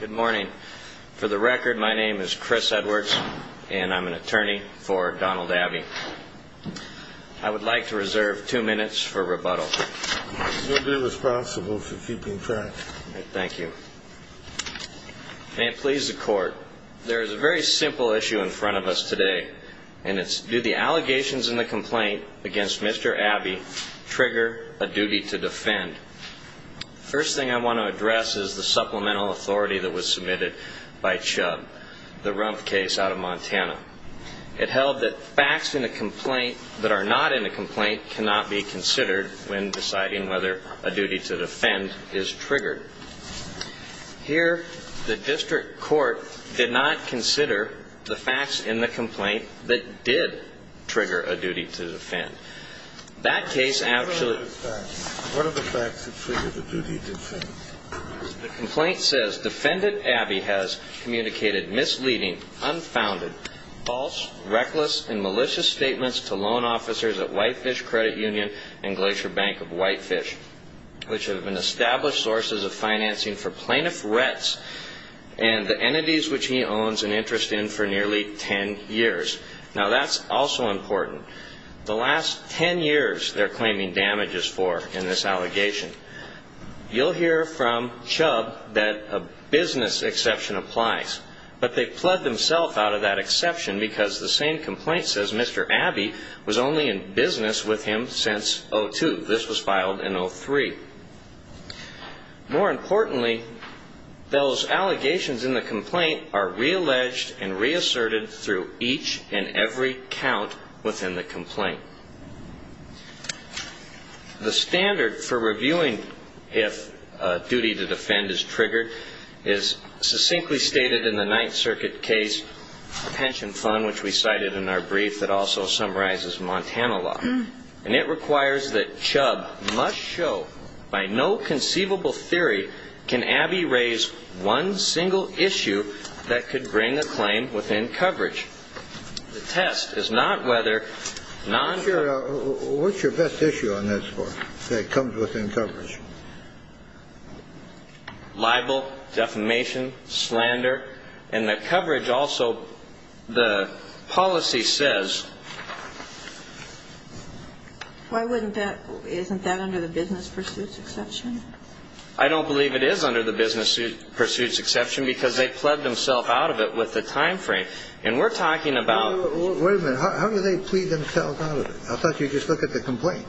Good morning. For the record, my name is Chris Edwards, and I'm an attorney for Donald Abbey. I would like to reserve two minutes for rebuttal. You'll be responsible for keeping track. Thank you. May it please the Court, there is a very simple issue in front of us today, and it's do the allegations in the complaint against Mr. Abbey trigger a duty to defend? The first thing I want to address is the supplemental authority that was submitted by Chubb, the Rumpf case out of Montana. It held that facts in a complaint that are not in a complaint cannot be considered when deciding whether a duty to defend is triggered. Here, the district court did not consider the facts in the complaint that did trigger a duty to defend. What are the facts that trigger the duty to defend? The complaint says, Defendant Abbey has communicated misleading, unfounded, false, reckless, and malicious statements to loan officers at Whitefish Credit Union and Glacier Bank of Whitefish, which have been established sources of financing for plaintiff's rents and the entities which he owns an interest in for nearly 10 years. Now, that's also important. The last 10 years they're claiming damages for in this allegation. You'll hear from Chubb that a business exception applies, but they've pled themselves out of that exception because the same complaint says Mr. Abbey was only in business with him since 2002. This was filed in 2003. More importantly, those allegations in the complaint are realleged and reasserted through each and every count within the complaint. The standard for reviewing if a duty to defend is triggered is succinctly stated in the Ninth Circuit case pension fund, which we cited in our brief that also summarizes Montana law. And it requires that Chubb must show by no conceivable theory can Abbey raise one single issue that could bring a claim within coverage. The test is not whether non- What's your best issue on that score that comes within coverage? Libel, defamation, slander. And the coverage also, the policy says Why wouldn't that, isn't that under the business pursuits exception? I don't believe it is under the business pursuits exception because they pled themselves out of it with the time frame. And we're talking about Wait a minute, how do they plead themselves out of it? I thought you just looked at the complaint.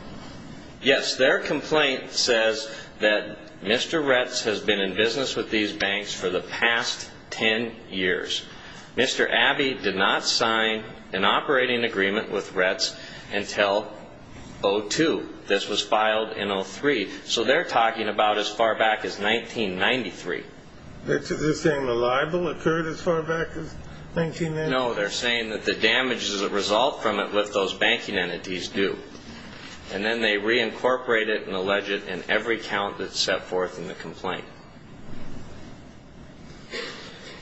Yes, their complaint says that Mr. Retz has been in business with these banks for the past 10 years. Mr. Abbey did not sign an operating agreement with Retz until 02. This was filed in 03. So they're talking about as far back as 1993. They're saying the libel occurred as far back as 1993? No, they're saying that the damage as a result from it left those banking entities due. And then they reincorporate it and allege it in every count that's set forth in the complaint.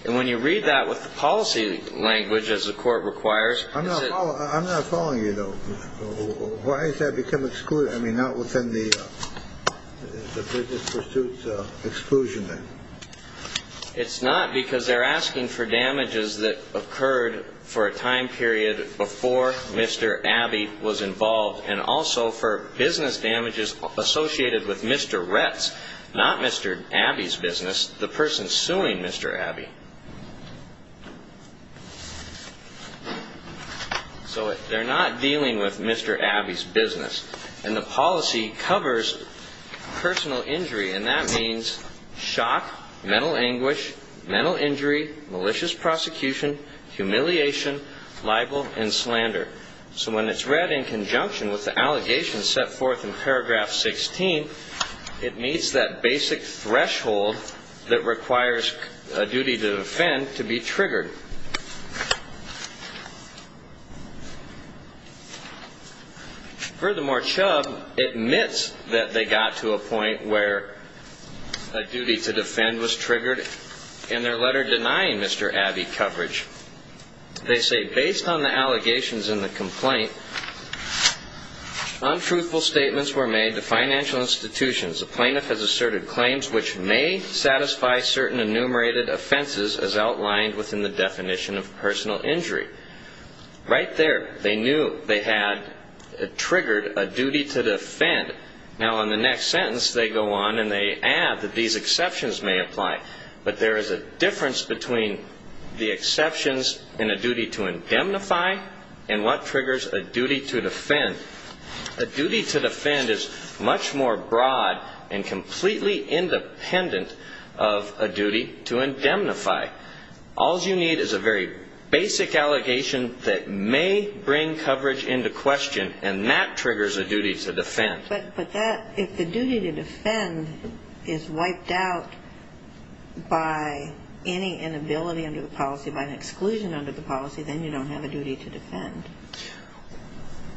And when you read that with the policy language as the court requires I'm not following you though. Why has that become excluded? I mean, not within the business pursuits exclusion then? It's not because they're asking for damages that occurred for a time period before Mr. Abbey was involved and also for business damages associated with Mr. Retz, not Mr. Abbey's business, the person suing Mr. Abbey. So they're not dealing with Mr. Abbey's business. And the policy covers personal injury, and that means shock, mental anguish, mental injury, malicious prosecution, humiliation, libel, and slander. So when it's read in conjunction with the allegations set forth in paragraph 16, it meets that basic threshold that requires a duty to defend to be triggered. Furthermore, Chubb admits that they got to a point where a duty to defend was triggered in their letter denying Mr. Abbey coverage. They say, The plaintiff has asserted claims which may satisfy certain enumerated offenses as outlined within the definition of personal injury. Right there they knew they had triggered a duty to defend. Now in the next sentence they go on and they add that these exceptions may apply, but there is a difference between the exceptions in a duty to indemnify and what triggers a duty to defend. A duty to defend is much more broad and completely independent of a duty to indemnify. All you need is a very basic allegation that may bring coverage into question, and that triggers a duty to defend. But that, if the duty to defend is wiped out by any inability under the policy, by an exclusion under the policy, then you don't have a duty to defend.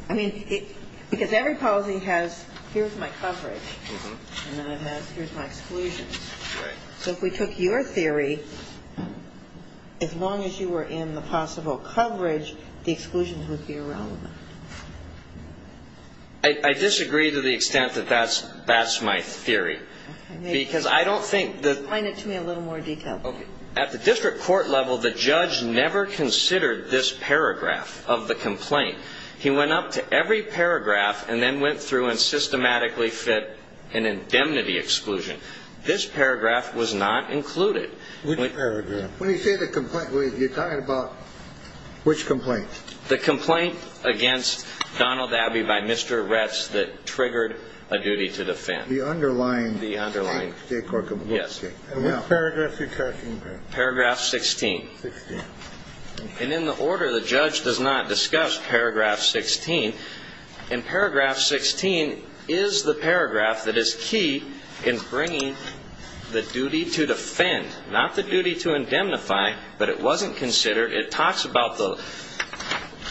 I mean, because every policy has, here's my coverage, and then it has, here's my exclusions. Right. So if we took your theory, as long as you were in the possible coverage, the exclusions would be irrelevant. I disagree to the extent that that's my theory, because I don't think that Explain it to me in a little more detail. At the district court level, the judge never considered this paragraph of the complaint. He went up to every paragraph and then went through and systematically fit an indemnity exclusion. This paragraph was not included. Which paragraph? When you say the complaint, you're talking about which complaint? The complaint against Donald Abbey by Mr. Retz that triggered a duty to defend. The underlying state court complaint? Yes. Okay. And which paragraph are you talking about? Paragraph 16. 16. And in the order, the judge does not discuss paragraph 16. And paragraph 16 is the paragraph that is key in bringing the duty to defend, not the duty to indemnify, but it wasn't considered. It talks about the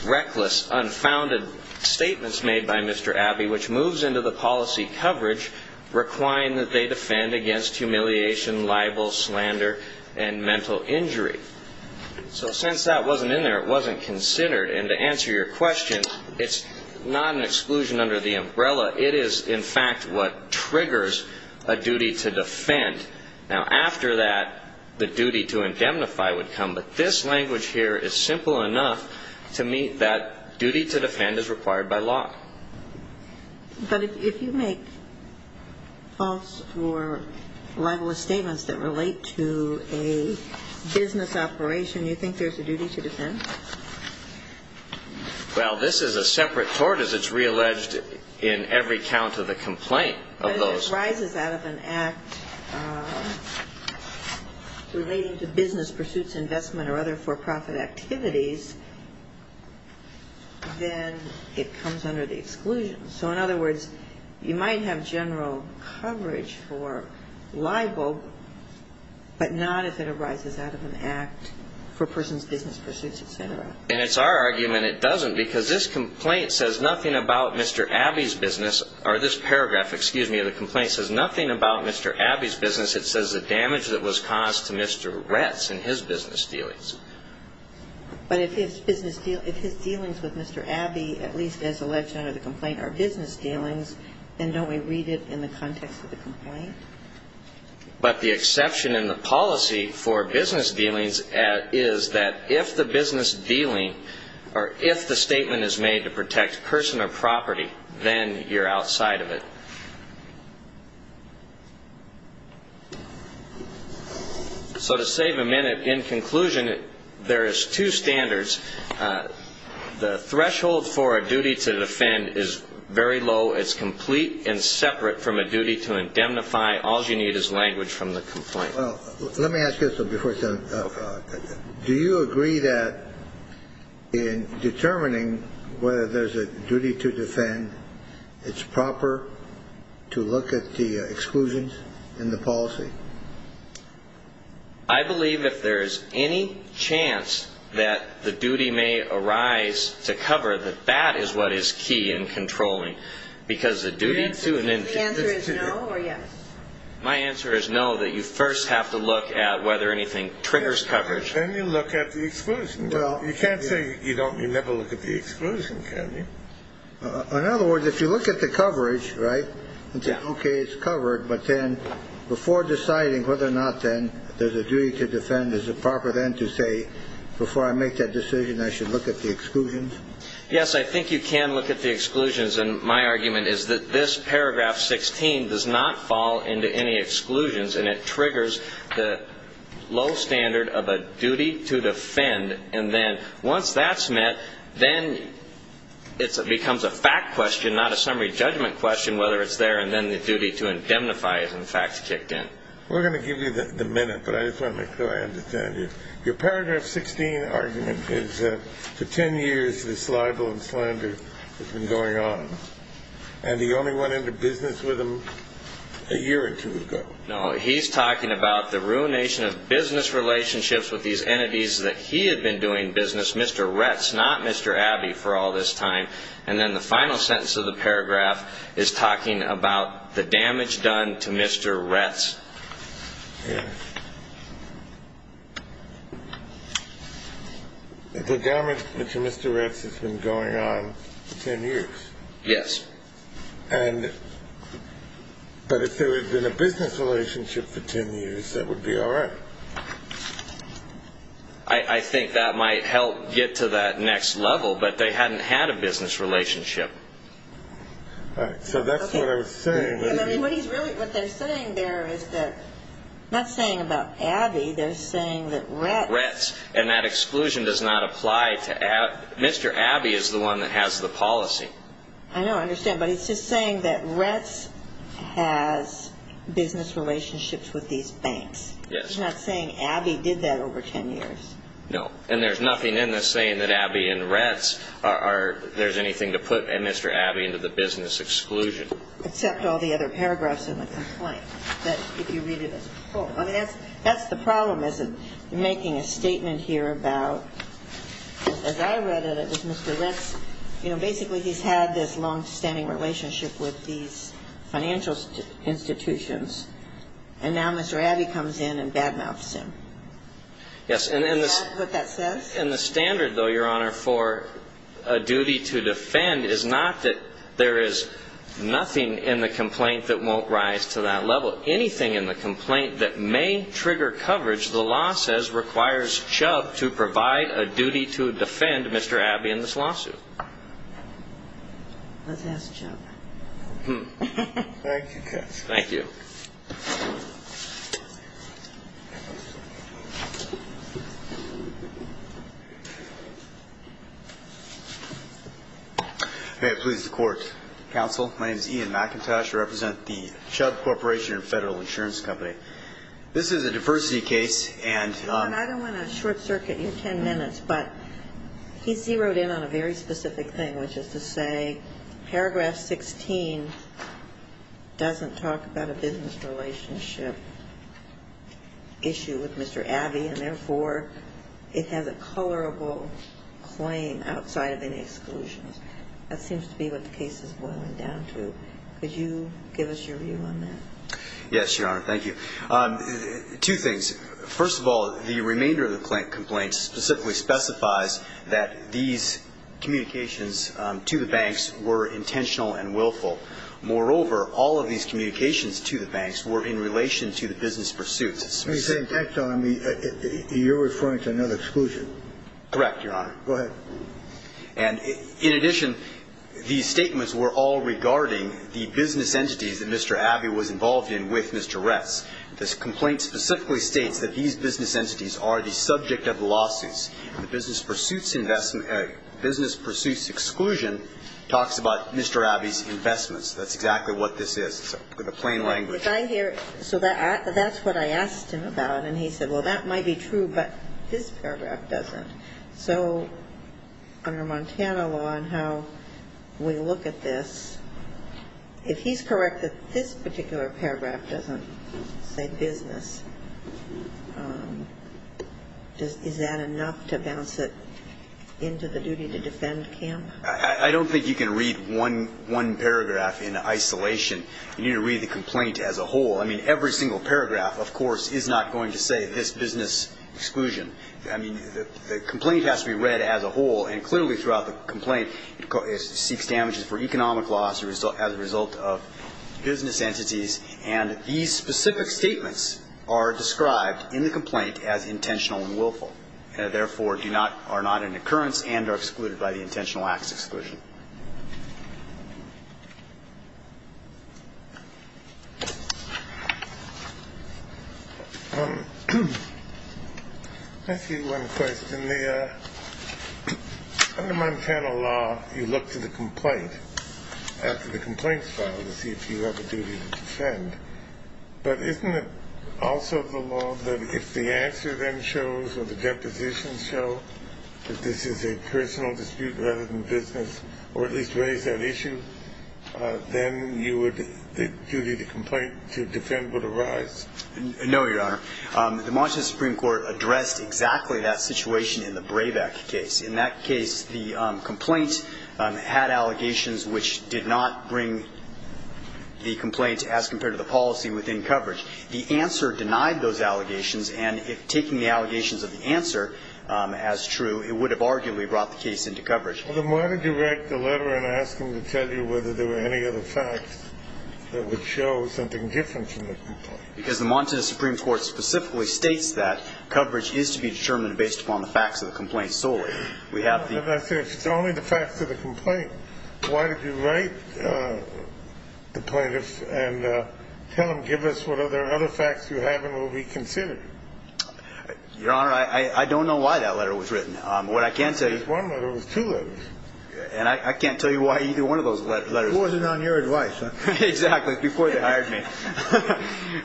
reckless, unfounded statements made by Mr. Abbey, which moves into the policy coverage, requiring that they defend against humiliation, libel, slander, and mental injury. So since that wasn't in there, it wasn't considered. And to answer your question, it's not an exclusion under the umbrella. It is, in fact, what triggers a duty to defend. Now, after that, the duty to indemnify would come, but this language here is simple enough to meet that duty to defend is required by law. But if you make false or libelous statements that relate to a business operation, you think there's a duty to defend? Well, this is a separate court, as it's realleged in every count of the complaint of those. If it arises out of an act relating to business pursuits, investment, or other for-profit activities, then it comes under the exclusion. So, in other words, you might have general coverage for libel, but not if it arises out of an act for a person's business pursuits, et cetera. And it's our argument it doesn't, because this complaint says nothing about Mr. Abbey's business or this paragraph, excuse me, of the complaint says nothing about Mr. Abbey's business. It says the damage that was caused to Mr. Retz in his business dealings. But if his dealings with Mr. Abbey, at least as alleged under the complaint, are business dealings, then don't we read it in the context of the complaint? But the exception in the policy for business dealings is that if the business dealing or if the statement is made to protect person or property, then you're outside of it. So to save a minute, in conclusion, there is two standards. The threshold for a duty to defend is very low. It's complete and separate from a duty to indemnify. All you need is language from the complaint. Well, let me ask you this before I send it out. Do you agree that in determining whether there's a duty to defend, it's proper to look at the exclusions in the policy? I believe if there is any chance that the duty may arise to cover, that that is what is key in controlling. Because the duty to indemnify. The answer is no or yes? My answer is no, that you first have to look at whether anything triggers coverage. Then you look at the exclusion. You can't say you never look at the exclusion, can you? In other words, if you look at the coverage, right, and say, okay, it's covered, but then before deciding whether or not then there's a duty to defend, is it proper then to say before I make that decision I should look at the exclusions? Yes, I think you can look at the exclusions. And my argument is that this paragraph 16 does not fall into any exclusions, and it triggers the low standard of a duty to defend. And then once that's met, then it becomes a fact question, not a summary judgment question, whether it's there and then the duty to indemnify is in fact kicked in. We're going to give you the minute, but I just want to make sure I understand you. Your paragraph 16 argument is that for ten years this libel and slander has been going on, and he only went into business with them a year or two ago. No, he's talking about the ruination of business relationships with these entities that he had been doing business, Mr. Retz, not Mr. Abbey, for all this time. And then the final sentence of the paragraph is talking about the damage done to Mr. Retz. Yeah. The damage to Mr. Retz has been going on for ten years. Yes. And but if there had been a business relationship for ten years, that would be all right. I think that might help get to that next level, but they hadn't had a business relationship. All right, so that's what I was saying. What they're saying there is that, not saying about Abbey, they're saying that Retz. Retz, and that exclusion does not apply to Abbey. Mr. Abbey is the one that has the policy. I know, I understand. But he's just saying that Retz has business relationships with these banks. He's not saying Abbey did that over ten years. No, and there's nothing in this saying that Abbey and Retz are, there's anything to put Mr. Abbey into the business exclusion. Except all the other paragraphs in the complaint, that if you read it as a whole. I mean, that's the problem is in making a statement here about, as I read it, it was Mr. Retz, you know, basically he's had this longstanding relationship with these financial institutions, and now Mr. Abbey comes in and badmouths him. Yes. Is that what that says? And the standard, though, Your Honor, for a duty to defend is not that there is nothing in the complaint that won't rise to that level. Anything in the complaint that may trigger coverage, the law says, requires Chubb to provide a duty to defend Mr. Abbey in this lawsuit. Let's ask Chubb. Thank you, Judge. Thank you. May it please the Court. Counsel, my name is Ian McIntosh. I represent the Chubb Corporation and Federal Insurance Company. This is a diversity case, and on. Your Honor, I don't want to short-circuit your ten minutes, but he zeroed in on a very specific thing, which is to say paragraph 16 doesn't talk about a business relationship issue with Mr. Abbey, and therefore it has a colorable claim outside of any exclusions. That seems to be what the case is boiling down to. Could you give us your view on that? Yes, Your Honor. Thank you. Two things. First of all, the remainder of the complaint specifically specifies that these communications to the banks were intentional and willful. Moreover, all of these communications to the banks were in relation to the business pursuit. Are you referring to another exclusion? Correct, Your Honor. Go ahead. And in addition, these statements were all regarding the business entities that Mr. Abbey was involved in with Mr. Retz. This complaint specifically states that these business entities are the subject of the lawsuits. The business pursuits exclusion talks about Mr. Abbey's investments. That's exactly what this is. It's a plain language. So that's what I asked him about, and he said, well, that might be true, but this paragraph doesn't. So under Montana law and how we look at this, if he's correct that this particular paragraph doesn't say business, is that enough to bounce it into the duty to defend camp? I don't think you can read one paragraph in isolation. You need to read the complaint as a whole. I mean, every single paragraph, of course, is not going to say this business exclusion. I mean, the complaint has to be read as a whole, and clearly throughout the complaint it seeks damages for economic loss as a result of business entities, and these specific statements are described in the complaint as intentional and willful and, therefore, are not an occurrence and are excluded by the intentional acts exclusion. I see one question. Under Montana law, you look to the complaint, after the complaint is filed, to see if you have a duty to defend, but isn't it also the law that if the answer then shows or the depositions show that this is a personal dispute rather than business or at least raise that issue, then the duty to complaint to defend would arise? No, Your Honor. The Montana Supreme Court addressed exactly that situation in the Brabeck case. In that case, the complaint had allegations which did not bring the complaint as compared to the policy within coverage. The answer denied those allegations, and if taking the allegations of the answer as true, it would have arguably brought the case into coverage. Well, then why did you write the letter and ask him to tell you whether there were any other facts that would show something different from the complaint? Because the Montana Supreme Court specifically states that coverage is to be determined based upon the facts of the complaint solely. We have the ---- But I say if it's only the facts of the complaint, why did you write the plaintiff and tell him, give us what other facts you have and we'll reconsider? Your Honor, I don't know why that letter was written. What I can tell you ---- It was one letter. It was two letters. And I can't tell you why either one of those letters ---- It wasn't on your advice, huh? Exactly. Before they hired me.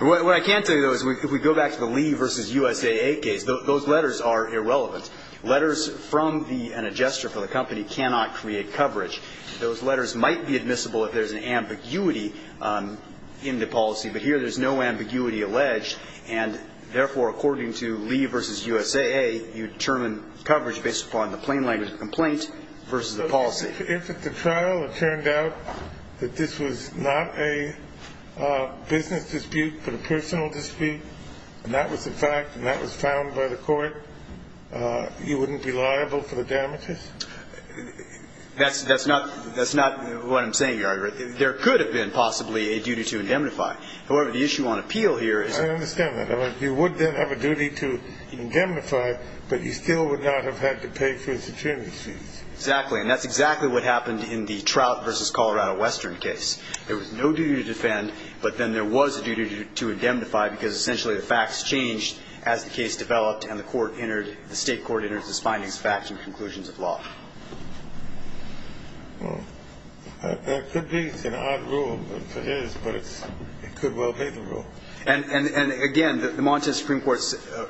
What I can tell you, though, is if we go back to the Lee v. USAA case, those letters are irrelevant. Letters from an adjuster for the company cannot create coverage. Those letters might be admissible if there's an ambiguity in the policy, but here there's no ambiguity alleged. And therefore, according to Lee v. USAA, you determine coverage based upon the plain language of the complaint versus the policy. So if at the trial it turned out that this was not a business dispute but a personal dispute, and that was the fact and that was found by the court, you wouldn't be liable for the damages? That's not what I'm saying, Your Honor. There could have been possibly a duty to indemnify. However, the issue on appeal here is ---- I understand that. You would then have a duty to indemnify, but you still would not have had to pay for his attorney's fees. Exactly. And that's exactly what happened in the Trout v. Colorado Western case. There was no duty to defend, but then there was a duty to indemnify because essentially the facts changed as the case developed and the state court entered its findings, facts, and conclusions of law. Well, that could be an odd rule for his, but it could well be the rule. And again, the Montana Supreme Court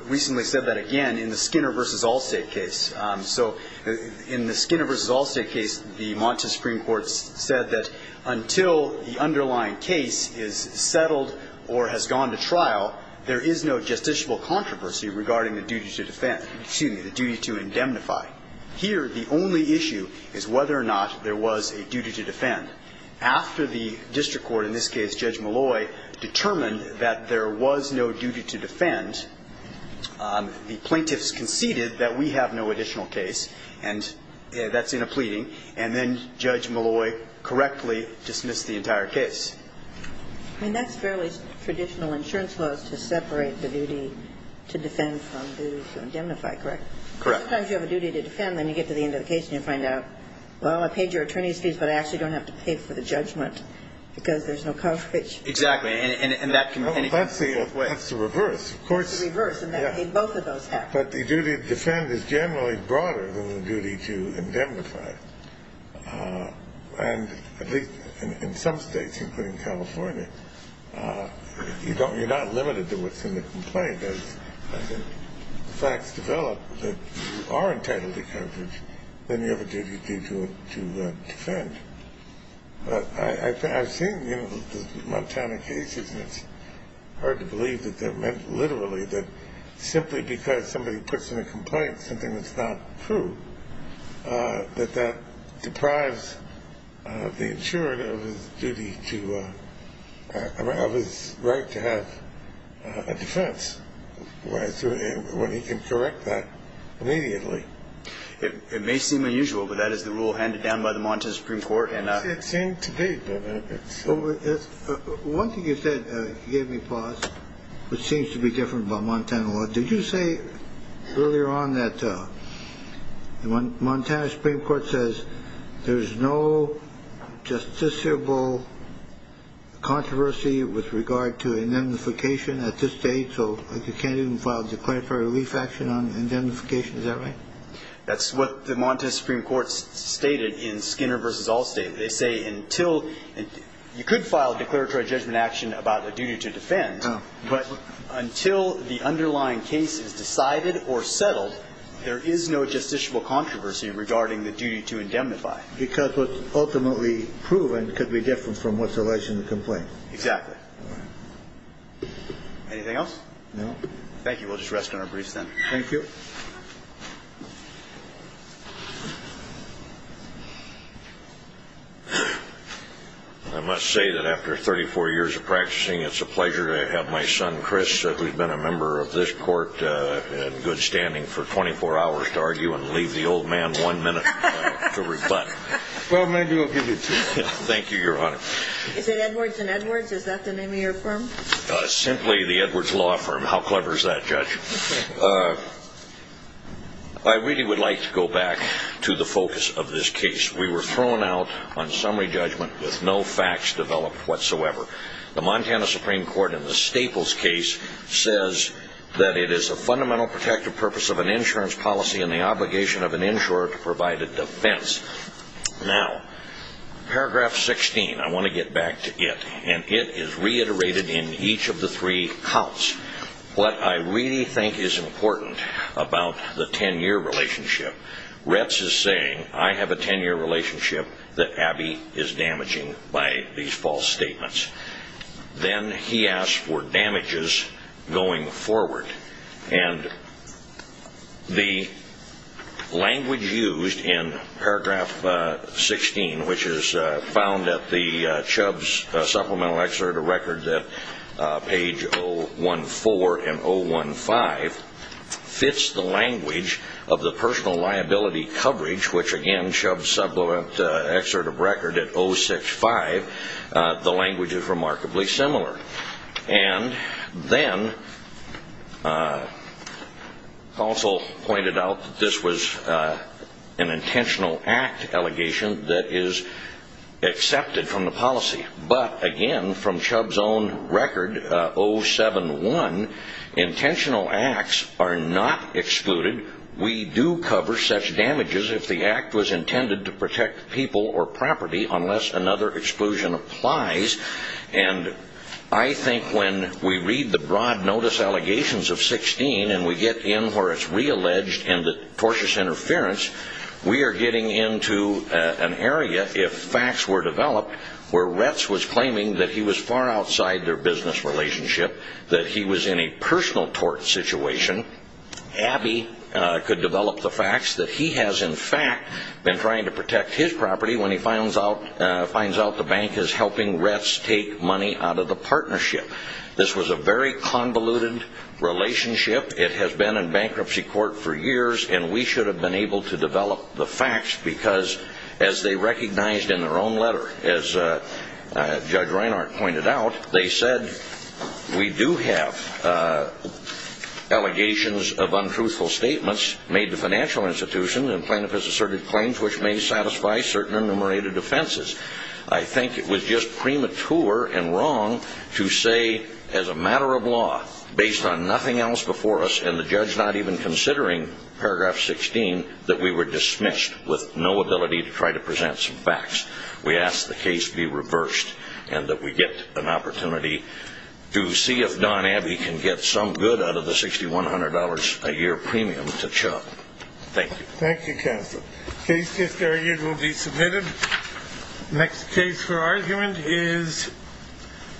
recently said that again in the Skinner v. Allstate case. So in the Skinner v. Allstate case, the Montana Supreme Court said that until the underlying case is settled or has gone to trial, there is no justiciable controversy regarding the duty to defend ---- excuse me, the duty to indemnify. Here, the only issue is whether or not there was a duty to defend. After the district court, in this case Judge Malloy, determined that there was no duty to defend, the plaintiffs conceded that we have no additional case, and that's in a pleading, and then Judge Malloy correctly dismissed the entire case. I mean, that's fairly traditional insurance laws to separate the duty to defend from the duty to indemnify, correct? Correct. Sometimes you have a duty to defend, then you get to the end of the case, and you find out, well, I paid your attorney's fees, but I actually don't have to pay for the judgment because there's no coverage. Exactly. And that can be anything. That's the reverse. Of course. It's the reverse, and both of those happen. But the duty to defend is generally broader than the duty to indemnify. And at least in some states, including California, you're not limited to what's in the complaint. As the facts develop that you are entitled to coverage, then you have a duty to defend. But I've seen Montana cases, and it's hard to believe that they're meant literally, that simply because somebody puts in a complaint something that's not true, that that deprives the insurer of his duty to have his right to have a defense when he can correct that immediately. It may seem unusual, but that is the rule handed down by the Montana Supreme Court. It seems to be. One thing you said, you gave me pause, which seems to be different by Montana law. Did you say earlier on that the Montana Supreme Court says there's no justiciable controversy with regard to indemnification at this date, so you can't even file a declaratory relief action on indemnification? Is that right? That's what the Montana Supreme Court stated in Skinner v. Allstate. They say until you could file a declaratory judgment action about a duty to defend, but until the underlying case is decided or settled, there is no justiciable controversy regarding the duty to indemnify. Because what's ultimately proven could be different from what's alleged in the complaint. Exactly. Anything else? No. Thank you. We'll just rest on our briefs then. Thank you. I must say that after 34 years of practicing, it's a pleasure to have my son, Chris, who's been a member of this court in good standing for 24 hours to argue and leave the old man one minute to rebut. Well, maybe we'll give you two. Thank you, Your Honor. Is it Edwards and Edwards? Is that the name of your firm? Simply the Edwards Law Firm. How clever is that, Judge? I really would like to go back to the focus of this case. We were thrown out on summary judgment with no facts developed whatsoever. The Montana Supreme Court in the Staples case says that it is a fundamental protective purpose of an insurance policy and the obligation of an insurer to provide a defense. Now, paragraph 16, I want to get back to it, and it is reiterated in each of the three counts. What I really think is important about the 10-year relationship, Retz is saying, I have a 10-year relationship that Abby is damaging by these false statements. Then he asks for damages going forward, and the language used in paragraph 16, which is found at the Chubbs Supplemental Excerpt, a record that page 014 and 015, fits the language of the personal liability coverage, which again, Chubbs Supplemental Excerpt of record at 065, the language is remarkably similar. And then also pointed out that this was an intentional act allegation that is accepted from the policy. But again, from Chubbs' own record, 071, intentional acts are not excluded. We do cover such damages if the act was intended to protect people or property unless another exclusion applies. And I think when we read the broad notice allegations of 16 and we get in where it's realleged and the tortious interference, we are getting into an area, if facts were developed, where Retz was claiming that he was far outside their business relationship, that he was in a personal tort situation. Abby could develop the facts that he has in fact been trying to protect his property when he finds out the bank is helping Retz take money out of the partnership. This was a very convoluted relationship. It has been in bankruptcy court for years, and we should have been able to develop the facts because as they recognized in their own letter, as Judge Reinhart pointed out, they said we do have allegations of untruthful statements made to financial institutions and plaintiff has asserted claims which may satisfy certain enumerated offenses. I think it was just premature and wrong to say as a matter of law, based on nothing else before us and the judge not even considering paragraph 16, that we were dismissed with no ability to try to present some facts. We ask the case be reversed and that we get an opportunity to see if Don Abbey can get some good out of the $6,100 a year premium to Chuck. Thank you. Thank you, counsel. The case just argued will be submitted. Next case for argument is